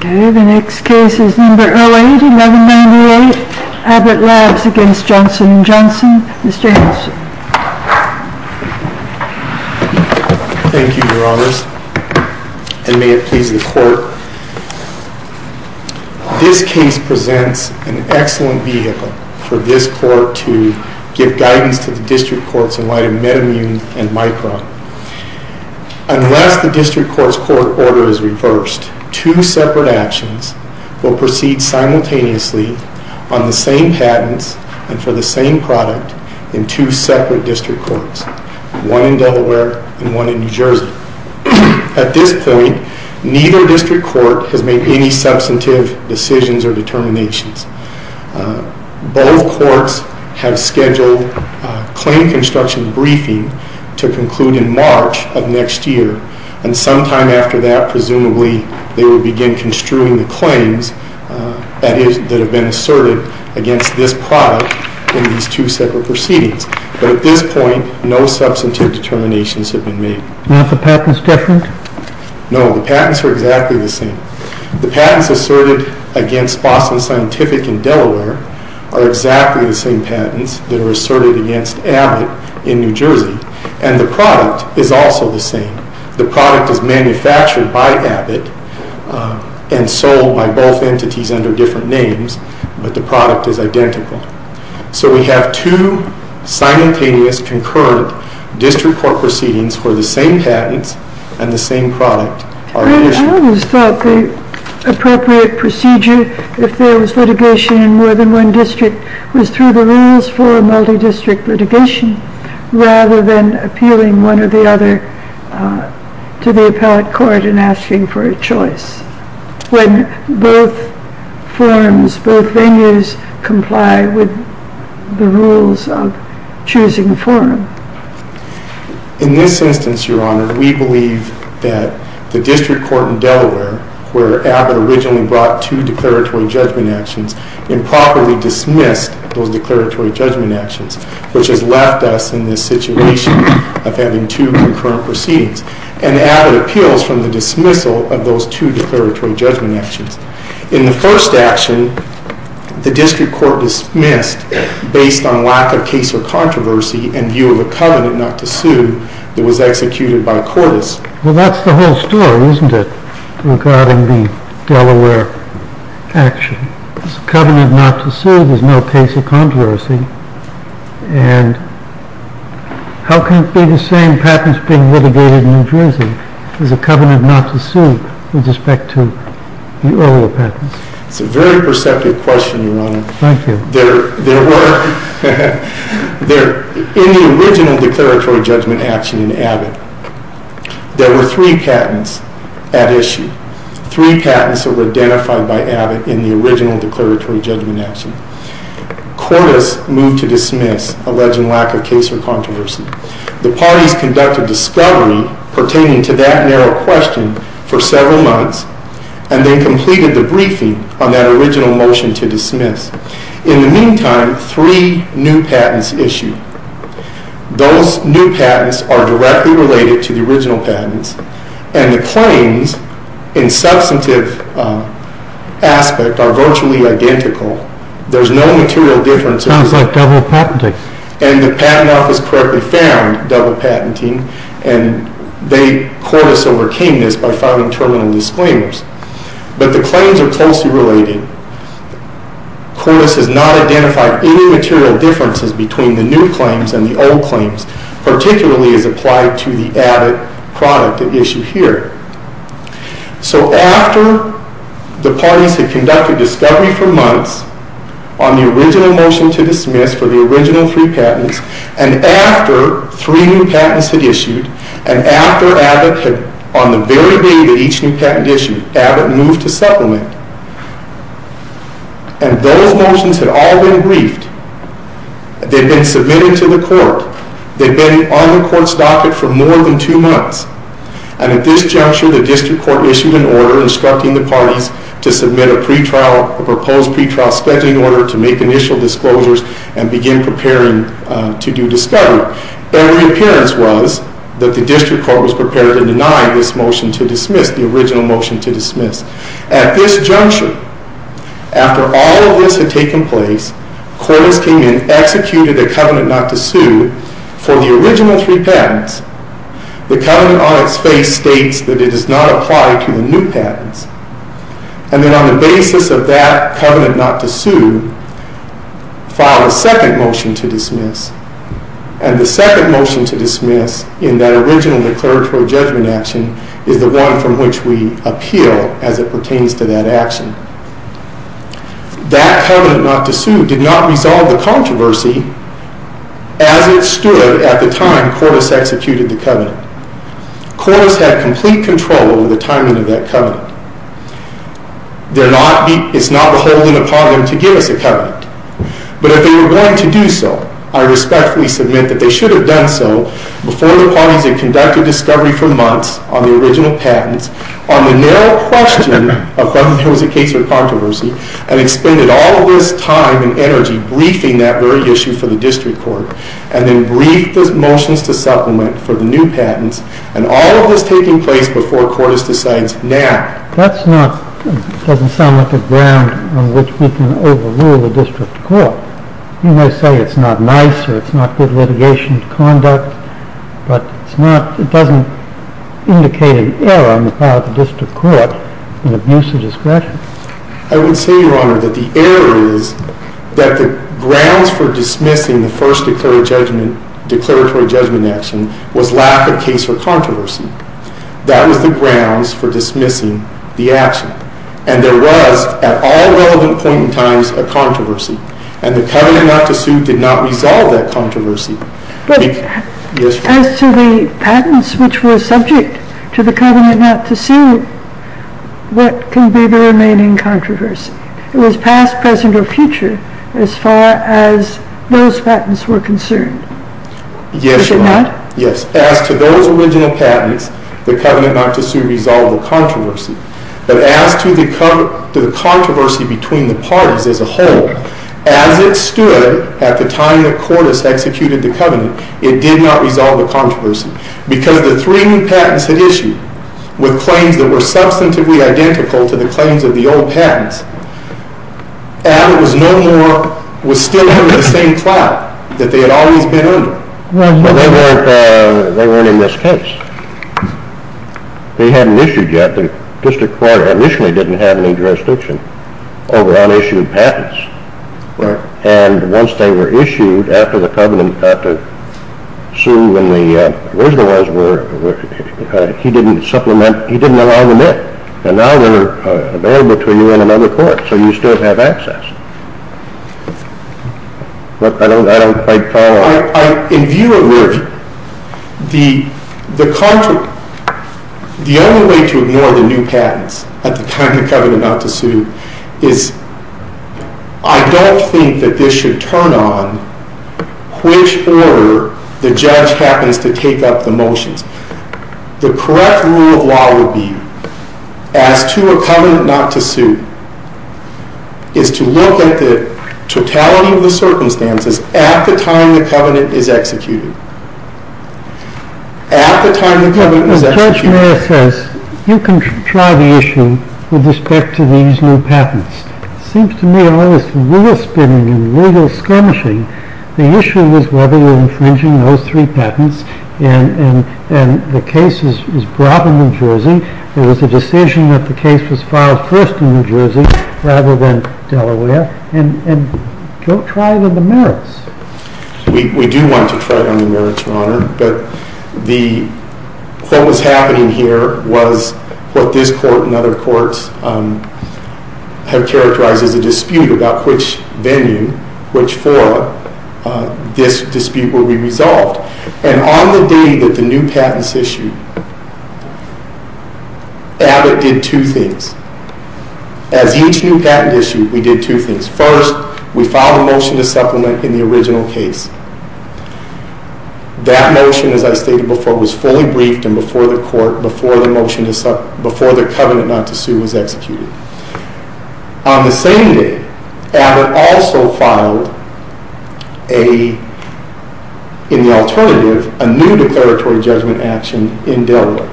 The next case is number 08-1198, Abbott Labs v. Johnson and Johnson. Mr. Hanson. Thank you, Your Honors, and may it please the Court. This case presents an excellent vehicle for this Court to give guidance to the District Courts in light of Metamine and Micron. Unless the District Court's court order is reversed, two separate actions will proceed simultaneously on the same patents and for the same product in two separate District Courts, one in Delaware and one in New Jersey. At this point, neither District Court has made any substantive decisions or determinations. Both Courts have scheduled a claim construction briefing to conclude in March of next year, and sometime after that, presumably, they will begin construing the claims that have been asserted against this product in these two separate proceedings. But at this point, no substantive determinations have been made. Are the patents different? No, the patents are exactly the same. The patents asserted against Boston Scientific in Delaware are exactly the same patents that are asserted against Abbott in New Jersey, and the product is also the same. The product is manufactured by Abbott and sold by both entities under different names, but the product is identical. So we have two simultaneous, concurrent District Court proceedings where the same patents and the same product are issued. I always thought the appropriate procedure, if there was litigation in more than one district, was through the rules for a multi-district litigation, rather than appealing one or the other to the appellate court and asking for a choice, when both forms, both venues, comply with the rules of choosing a forum. In this instance, Your Honor, we believe that the District Court in Delaware, where Abbott originally brought two declaratory judgment actions, improperly dismissed those declaratory judgment actions, which has left us in this situation of having two concurrent proceedings, and Abbott appeals from the dismissal of those two declaratory judgment actions. In the first action, the District Court dismissed, based on lack of case or controversy and view of a covenant not to sue, that was executed by a courtesan. Well, that's the whole story, isn't it, regarding the Delaware action. It's a covenant not to sue. There's no case of controversy. And how can it be the same patents being litigated in New Jersey? There's a covenant not to sue with respect to the earlier patents. It's a very perceptive question, Your Honor. Thank you. In the original declaratory judgment action in Abbott, there were three patents at issue. Three patents that were identified by Abbott in the original declaratory judgment action. Court has moved to dismiss alleged lack of case or controversy. The parties conducted discovery pertaining to that narrow question for several months and then completed the briefing on that original motion to dismiss. In the meantime, three new patents issued. Those new patents are directly related to the original patents, and the claims in substantive aspect are virtually identical. There's no material difference. Sounds like double patenting. And the Patent Office correctly found double patenting, and they courted us over keenness by filing terminal disclaimers. But the claims are closely related. Court has not identified any material differences between the new claims and the old claims, particularly as applied to the Abbott product at issue here. So after the parties had conducted discovery for months on the original motion to dismiss for the original three patents, and after three new patents had issued, and after Abbott had, on the very day that each new patent issued, Abbott moved to supplement, and those motions had all been briefed, they'd been submitted to the court, they'd been on the court's docket for more than two months. And at this juncture, the district court issued an order instructing the parties to submit a pre-trial, a proposed pre-trial scheduling order to make initial disclosures and begin preparing to do discovery. Their reappearance was that the district court was prepared to deny this motion to dismiss, the original motion to dismiss. At this juncture, after all of this had taken place, courts came in, executed a covenant not to sue for the original three patents. The covenant on its face states that it does not apply to the new patents. And then on the basis of that covenant not to sue, filed a second motion to dismiss, and the second motion to dismiss in that original declaratory judgment action is the one from which we appeal as it pertains to that action. That covenant not to sue did not resolve the controversy as it stood at the time Cordes executed the covenant. Cordes had complete control over the timing of that covenant. It's not beholden upon them to give us a covenant. But if they were going to do so, I respectfully submit that they should have done so before the parties had conducted discovery for months on the original patents, on the narrow question of whether there was a case or controversy, and expended all of this time and energy briefing that very issue for the district court, and then briefed the motions to supplement for the new patents, and all of this taking place before Cordes decides now. That's not, doesn't sound like a ground on which we can overrule the district court. You may say it's not nice or it's not good litigation conduct, but it's not, it doesn't indicate an error on the part of the district court in abuse of discretion. I would say, Your Honor, that the error is that the grounds for dismissing the first declaratory judgment action was lack of case or controversy. That was the grounds for dismissing the action. And there was, at all relevant point in time, a controversy. And the covenant not to sue did not resolve that controversy. But as to the patents which were subject to the covenant not to sue, what can be the remaining controversy? It was past, present, or future as far as those patents were concerned. Yes, Your Honor. Is it not? Yes. As to those original patents, the covenant not to sue resolved the controversy. But as to the controversy between the parties as a whole, as it stood at the time that Cordes executed the covenant, it did not resolve the controversy. Because the three new patents had issued with claims that were substantively identical to the claims of the old patents, and it was no more, was still under the same cloud that they had always been under. Well, they weren't in this case. They hadn't issued yet. The district court initially didn't have any jurisdiction over unissued patents. Right. And once they were issued after the covenant not to sue, when the original ones were, he didn't supplement, he didn't allow them in. And now they're available to you in another court, so you still have access. But I don't quite follow. In view of review, the only way to ignore the new patents at the time of covenant not to sue is, I don't think that this should turn on which order the judge happens to take up the motions. The correct rule of law would be, as to a covenant not to sue, is to look at the totality of the circumstances at the time the covenant is executed. At the time the covenant is executed. You can try the issue with respect to these new patents. Seems to me all this legal spinning and legal skirmishing, the issue is whether you're infringing those three patents, and the case is brought in New Jersey. It was a decision that the case was filed first in New Jersey rather than Delaware. And don't try it on the merits. We do want to try it on the merits, Your Honor. But what was happening here was what this court and other courts have characterized as a dispute about which venue, which forum, this dispute will be resolved. And on the day that the new patents issued, Abbott did two things. As each new patent issued, we did two things. First, we filed a motion to supplement in the original case. That motion, as I stated before, was fully briefed and before the court, before the motion, before the covenant not to sue was executed. On the same day, Abbott also filed a, in the alternative, a new declaratory judgment action in Delaware.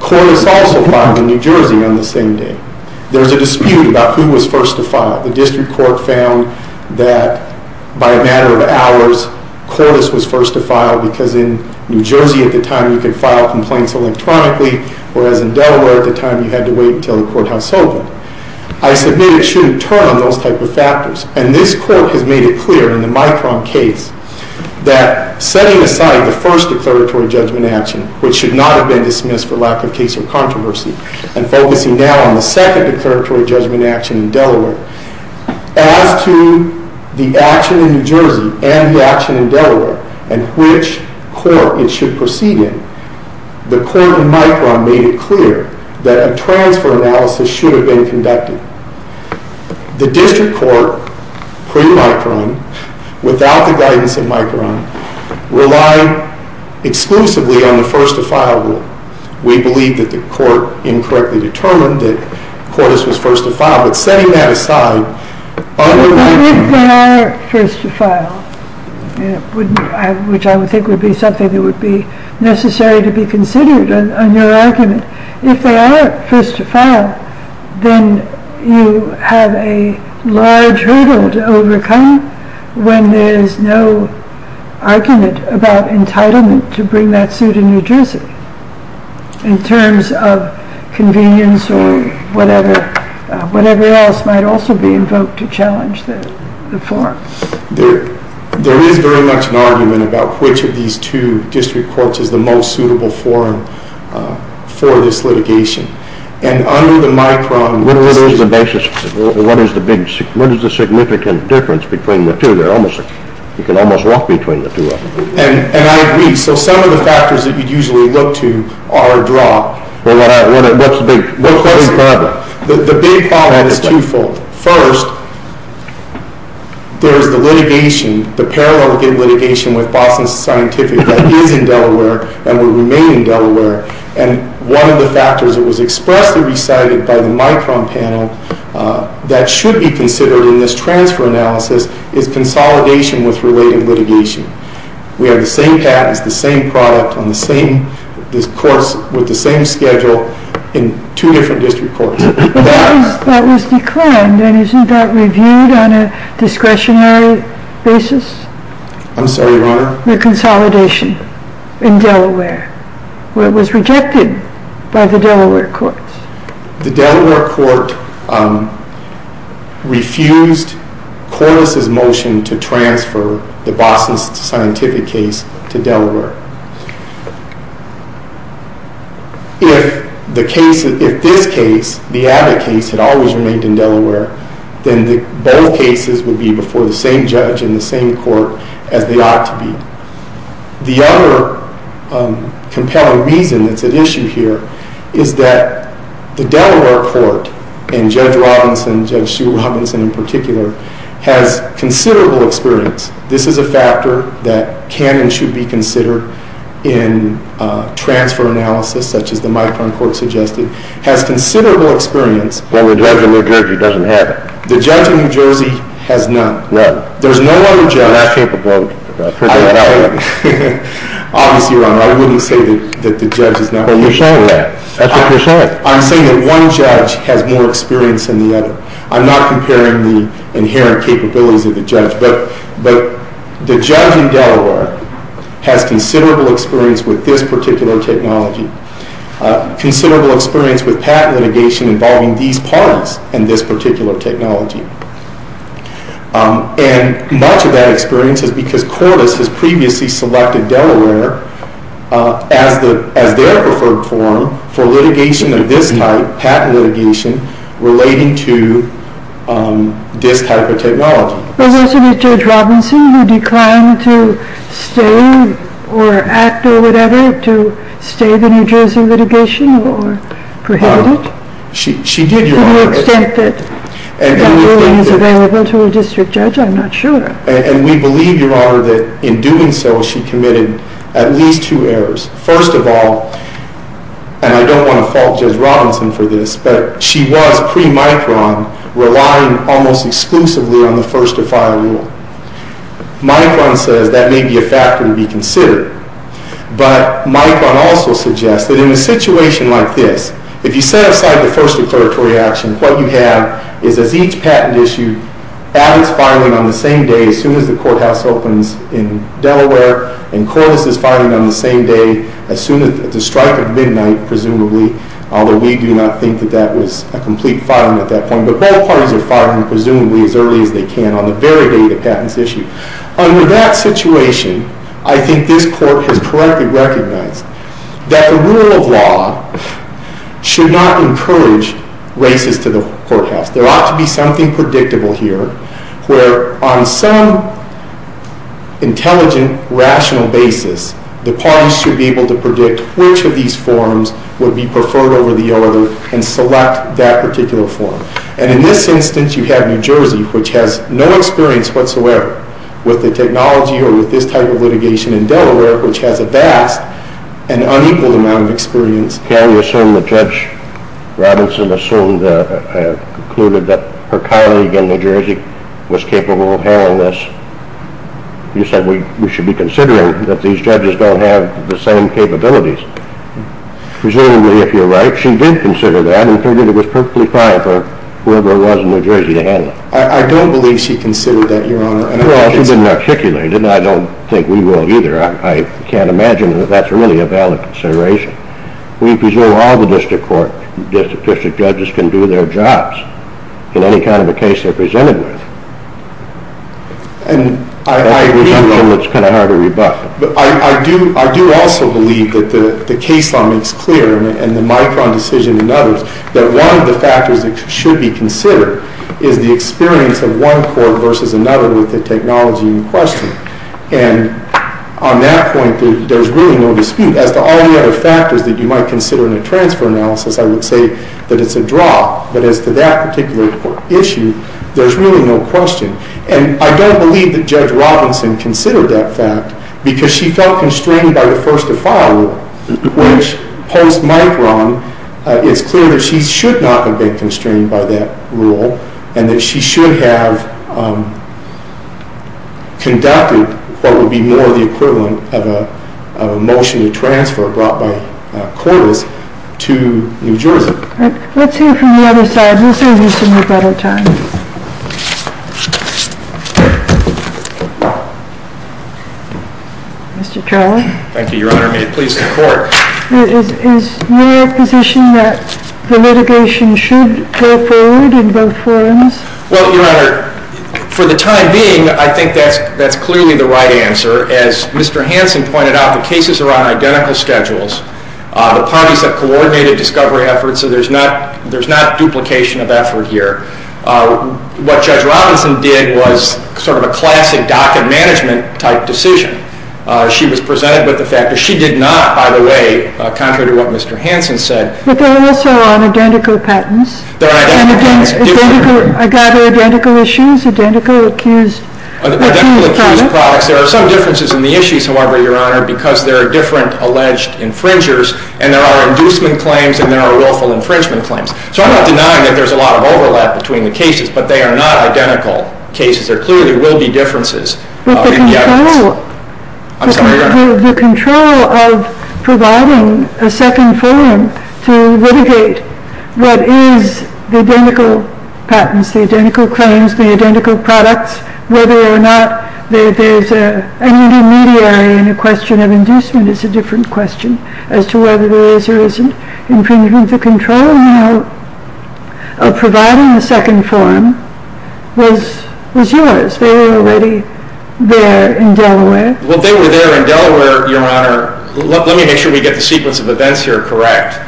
Cordes also filed in New Jersey on the same day. There's a dispute about who was first to file it. The district court found that by a matter of hours, Cordes was first to file because in New Jersey at the time you could file complaints electronically, whereas in Delaware at the time you had to wait until the courthouse opened. I submit it shouldn't turn on those type of factors. And this court has made it clear in the Micron case that setting aside the first declaratory judgment action, which should not have been dismissed for lack of case or controversy, and focusing now on the second declaratory judgment action in Delaware, as to the action in New Jersey and the action in Delaware and which court it should proceed in, the court in Micron made it clear that a transfer analysis should have been conducted. The district court, pre-Micron, without the guidance of Micron, relied exclusively on the first-to-file rule. We believe that the court incorrectly determined that Cordes was first to file. But setting that aside— But if they are first to file, which I would think would be something that would be necessary to be considered on your argument, if they are first to file, then you have a large hurdle to overcome when there is no argument about entitlement to bring that suit in New Jersey in terms of convenience or whatever else might also be invoked to challenge the form. There is very much an argument about which of these two district courts is the most suitable form for this litigation. And under the Micron— What is the significant difference between the two? You can almost walk between the two of them. And I agree. So some of the factors that you'd usually look to are a draw. What's the big problem? The big problem is twofold. First, there is the litigation, the parallel litigation with Boston Scientific that is in Delaware and will remain in Delaware. And one of the factors that was expressly recited by the Micron panel that should be considered in this transfer analysis is consolidation with related litigation. We have the same patents, the same product on the same—the courts with the same schedule in two different district courts. But that was declined, and isn't that reviewed on a discretionary basis? I'm sorry, Your Honor? The consolidation in Delaware, where it was rejected by the Delaware courts. The Delaware court refused Cordes' motion to transfer the Boston Scientific case to Delaware. If this case, the Abbott case, had always remained in Delaware, then both cases would be before the same judge in the same court as they ought to be. The other compelling reason that's at issue here is that the Delaware court, and Judge Robinson, Judge Sue Robinson in particular, has considerable experience. This is a factor that can and should be considered in transfer analysis, such as the Micron court suggested, has considerable experience. Well, the judge in New Jersey doesn't have it. The judge in New Jersey has none. Right. There's no other judge— You're not capable of putting that out there. Obviously, Your Honor, I wouldn't say that the judge is not— But you're saying that. That's what you're saying. I'm saying that one judge has more experience than the other. I'm not comparing the inherent capabilities of the judge. But the judge in Delaware has considerable experience with this particular technology, considerable experience with patent litigation involving these parties and this particular technology. And much of that experience is because Cordes has previously selected Delaware as their preferred forum for litigation of this type, patent litigation, relating to this type of technology. But wasn't it Judge Robinson who declined to stay or act or whatever to stay the New Jersey litigation or prohibit it? To the extent that that ruling is available to a district judge, I'm not sure. And we believe, Your Honor, that in doing so, she committed at least two errors. First of all—and I don't want to fault Judge Robinson for this—but she was, pre-Micron, relying almost exclusively on the First to File Rule. Micron says that may be a factor to be considered. But Micron also suggests that in a situation like this, if you set aside the first declaratory action, what you have is, as each patent issued, Abbott's filing on the same day, as soon as the courthouse opens in Delaware, and Cordes' filing on the same day, as soon as the strike of midnight, presumably, although we do not think that that was a complete filing at that point, but both parties are filing, presumably, as early as they can on the very day the patent's issued. Under that situation, I think this Court has correctly recognized that the rule of law should not encourage races to the courthouse. There ought to be something predictable here where, on some intelligent, rational basis, the parties should be able to predict which of these forms would be preferred over the other and select that particular form. And in this instance, you have New Jersey, which has no experience whatsoever with the technology or with this type of litigation in Delaware, which has a vast and unequaled amount of experience. Can you assume that Judge Robinson assumed or concluded that her colleague in New Jersey was capable of handling this? You said we should be considering that these judges don't have the same capabilities. Presumably, if you're right, she did consider that and figured it was perfectly fine for whoever it was in New Jersey to handle it. I don't believe she considered that, Your Honor. Well, she didn't articulate it, and I don't think we will either. I can't imagine that that's really a valid consideration. We presume all the district court, district district judges can do their jobs in any kind of a case they're presented with. I do also believe that the case law makes clear, and the Micron decision and others, that one of the factors that should be considered is the experience of one court versus another with the technology in question. And on that point, there's really no dispute. As to all the other factors that you might consider in a transfer analysis, I would say that it's a draw. But as to that particular issue, there's really no question. And I don't believe that Judge Robinson considered that fact because she felt constrained by the first to file rule, which post-Micron, it's clear that she should not have been constrained by that rule and that she should have conducted what would be more the equivalent of a motion to transfer brought by Cordes to New Jersey. Let's hear from the other side. We'll save you some rebuttal time. Mr. Troll. Thank you, Your Honor. May it please the Court. Is your position that the litigation should go forward in both forms? Well, Your Honor, for the time being, I think that's clearly the right answer. As Mr. Hanson pointed out, the cases are on identical schedules. The parties have coordinated discovery efforts, so there's not duplication of effort here. What Judge Robinson did was sort of a classic docket management type decision. She was presented with the fact that she did not, by the way, contrary to what Mr. Hanson said. But they're also on identical patents. They're on identical patents. Identical issues, identical accused products. Identical accused products. There are some differences in the issues, however, Your Honor, because there are different alleged infringers, and there are inducement claims and there are willful infringement claims. So I'm not denying that there's a lot of overlap between the cases, but they are not identical cases. There clearly will be differences. But the control of providing a second forum to litigate what is the identical patents, the identical claims, the identical products, whether or not there's an intermediary in a question of inducement is a different question as to whether there is or isn't infringement. The control now of providing a second forum was yours. They were already there in Delaware. Well, they were there in Delaware, Your Honor. Let me make sure we get the sequence of events here correct.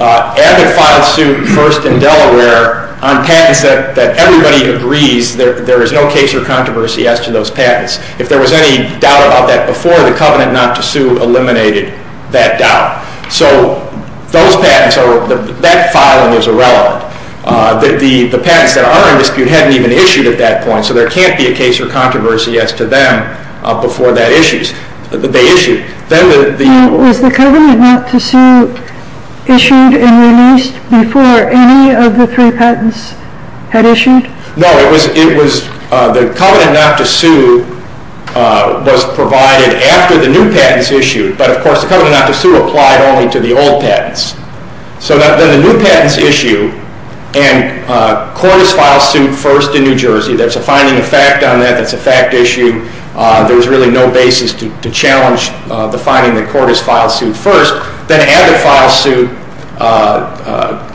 Abbott filed suit first in Delaware on patents that everybody agrees there is no case or controversy as to those patents. If there was any doubt about that before the covenant not to sue eliminated that doubt. So those patents, that filing is irrelevant. The patents that are in dispute hadn't even issued at that point, so there can't be a case or controversy as to them before that issue. They issued. Was the covenant not to sue issued and released before any of the three patents had issued? No. The covenant not to sue was provided after the new patents issued, but, of course, the covenant not to sue applied only to the old patents. So then the new patents issued and Cordis filed suit first in New Jersey. There's a finding of fact on that. That's a fact issue. There was really no basis to challenge the finding that Cordis filed suit first. Then Abbott filed suit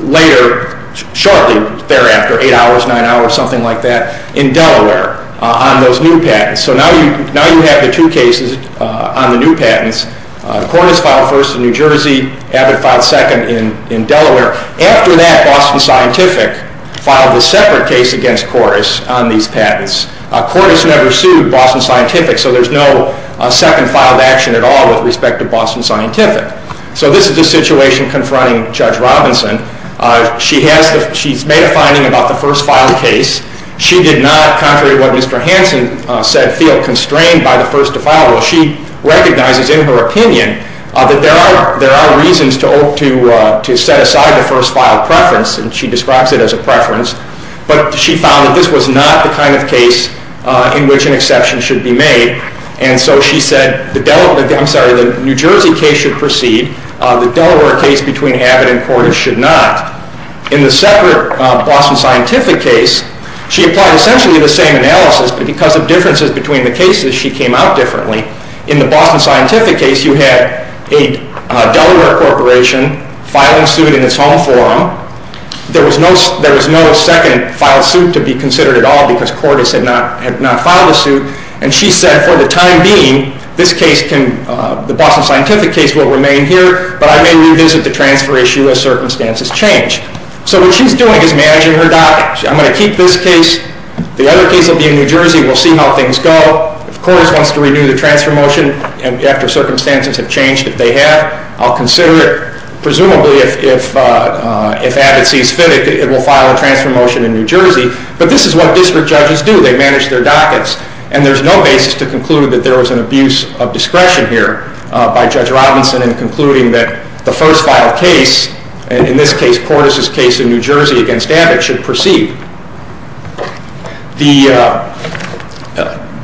later, shortly thereafter, eight hours, nine hours, something like that, in Delaware on those new patents. So now you have the two cases on the new patents. Cordis filed first in New Jersey. Abbott filed second in Delaware. After that, Boston Scientific filed a separate case against Cordis on these patents. Cordis never sued Boston Scientific, so there's no second filed action at all with respect to Boston Scientific. So this is the situation confronting Judge Robinson. She's made a finding about the first filed case. She did not, contrary to what Mr. Hanson said, feel constrained by the first to file. Well, she recognizes in her opinion that there are reasons to set aside the first file preference, and she describes it as a preference. But she found that this was not the kind of case in which an exception should be made, and so she said the New Jersey case should proceed. The Delaware case between Abbott and Cordis should not. In the separate Boston Scientific case, she applied essentially the same analysis, but because of differences between the cases, she came out differently. In the Boston Scientific case, you had a Delaware corporation filing suit in its home forum. There was no second filed suit to be considered at all because Cordis had not filed a suit, and she said for the time being, this case, the Boston Scientific case, will remain here, but I may revisit the transfer issue as circumstances change. So what she's doing is managing her documents. I'm going to keep this case. The other case will be in New Jersey. We'll see how things go. If Cordis wants to renew the transfer motion after circumstances have changed, if they have, I'll consider it. Presumably if Abbott sees fit, it will file a transfer motion in New Jersey, but this is what district judges do. They manage their dockets, and there's no basis to conclude that there was an abuse of discretion here by Judge Robinson in concluding that the first filed case, in this case Cordis' case in New Jersey against Abbott, should proceed.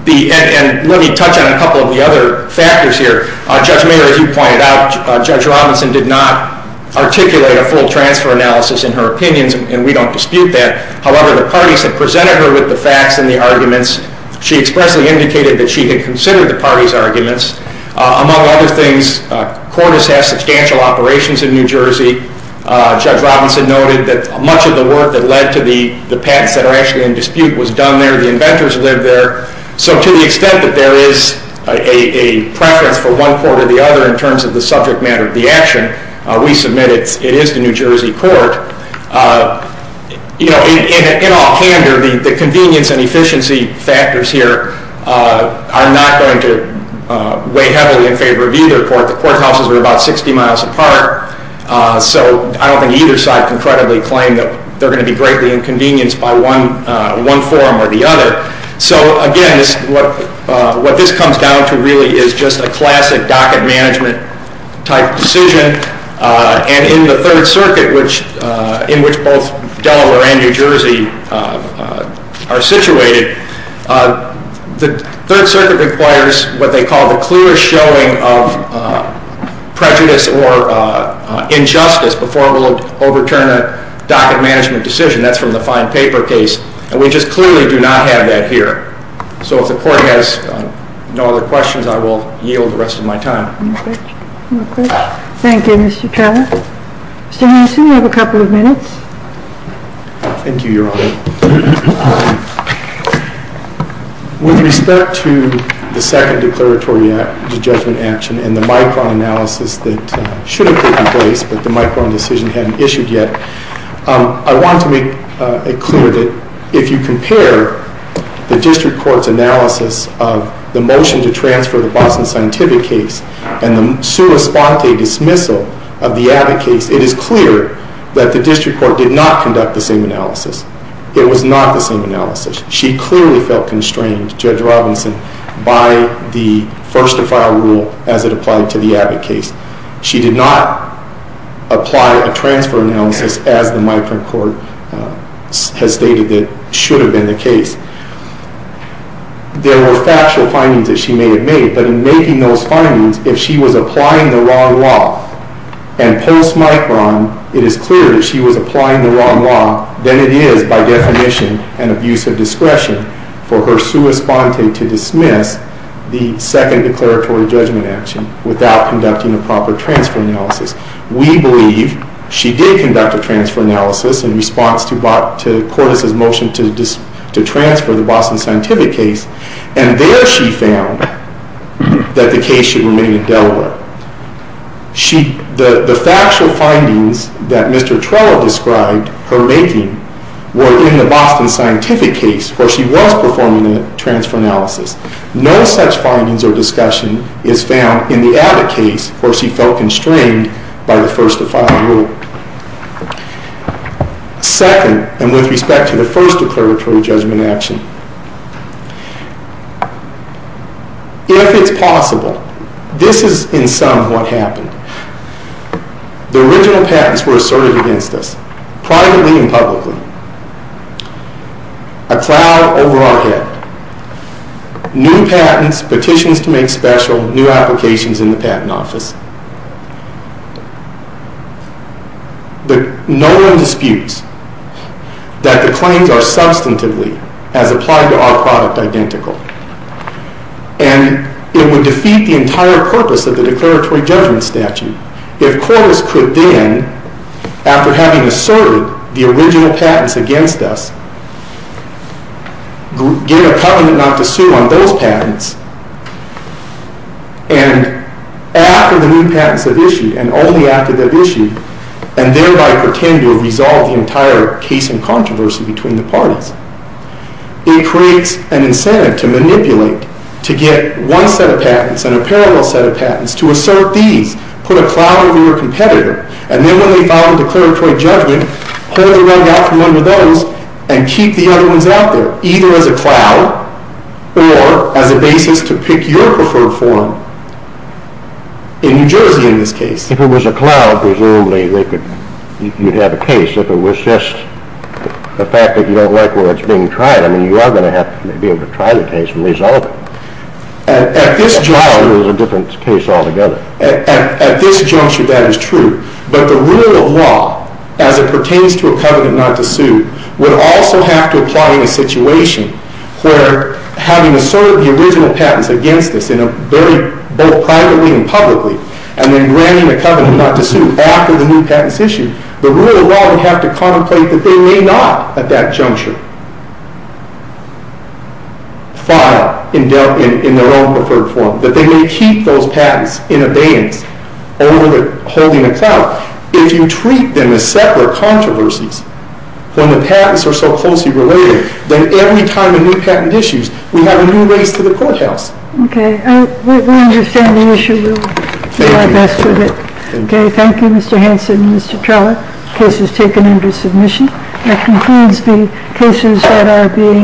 And let me touch on a couple of the other factors here. Judge Mayer, as you pointed out, Judge Robinson did not articulate a full transfer analysis in her opinions, and we don't dispute that. However, the parties that presented her with the facts and the arguments, she expressly indicated that she had considered the parties' arguments. Among other things, Cordis has substantial operations in New Jersey. Judge Robinson noted that much of the work that led to the patents that are actually in dispute was done there. The inventors lived there. So to the extent that there is a preference for one court or the other in terms of the subject matter of the action, we submit it is the New Jersey court. In all candor, the convenience and efficiency factors here are not going to weigh heavily in favor of either court. The courthouses are about 60 miles apart, so I don't think either side can credibly claim that they're going to be greatly inconvenienced by one forum or the other. So, again, what this comes down to really is just a classic docket management type decision. And in the Third Circuit, in which both Delaware and New Jersey are situated, the Third Circuit requires what they call the clear showing of prejudice or injustice before it will overturn a docket management decision. That's from the fine paper case. And we just clearly do not have that here. So if the court has no other questions, I will yield the rest of my time. Thank you, Mr. Keller. Mr. Hanson, you have a couple of minutes. Thank you, Your Honor. With respect to the second declaratory act, the judgment action, and the micron analysis that should have taken place but the micron decision hadn't issued yet, I want to make it clear that if you compare the district court's analysis of the motion to transfer the Boston Scientific case and the sua sponte dismissal of the Abbott case, it is clear that the district court did not conduct the same analysis. It was not the same analysis. She clearly felt constrained, Judge Robinson, by the first-to-file rule as it applied to the Abbott case. She did not apply a transfer analysis as the micron court has stated that should have been the case. There were factual findings that she may have made, but in making those findings, if she was applying the wrong law, and post-micron, it is clear that she was applying the wrong law, then it is, by definition, an abuse of discretion for her sua sponte to dismiss the second declaratory judgment action without conducting a proper transfer analysis. We believe she did conduct a transfer analysis in response to Cordes' motion to transfer the Boston Scientific case, and there she found that the case should remain in Delaware. The factual findings that Mr. Trello described her making were in the Boston Scientific case, where she was performing a transfer analysis. No such findings or discussion is found in the Abbott case, where she felt constrained by the first-to-file rule. Second, and with respect to the first declaratory judgment action, if it's possible, this is, in sum, what happened. The original patents were asserted against us, privately and publicly. A cloud over our head. New patents, petitions to make special, new applications in the patent office. But no one disputes that the claims are substantively, as applied to our product, identical. And it would defeat the entire purpose of the declaratory judgment statute if Cordes could then, after having asserted the original patents against us, get a covenant not to sue on those patents, and after the new patents have issued, and only after they've issued, and thereby pretend to resolve the entire case in controversy between the parties. It creates an incentive to manipulate, to get one set of patents and a parallel set of patents, to assert these, put a cloud over your competitor, and then when they file the declaratory judgment, pull the rug out from under those, and keep the other ones out there, either as a cloud, or as a basis to pick your preferred forum. In New Jersey, in this case. If it was a cloud, presumably you'd have a case. If it was just the fact that you don't like where it's being tried, I mean, you are going to have to be able to try the case and resolve it. At this juncture, that is true. But the rule of law, as it pertains to a covenant not to sue, would also have to apply in a situation where having asserted the original patents against us, both privately and publicly, and then granting a covenant not to sue after the new patents issue, the rule of law would have to contemplate that they may not, at that juncture, file in their own preferred forum, that they may keep those patents in abeyance over holding a cloud. If you treat them as separate controversies, when the patents are so closely related, then every time a new patent issues, we have a new race to the courthouse. Okay. We understand the issue. We'll do our best with it. Okay. Thank you, Mr. Hanson and Mr. Trellick. The case is taken into submission. That concludes the cases that are being…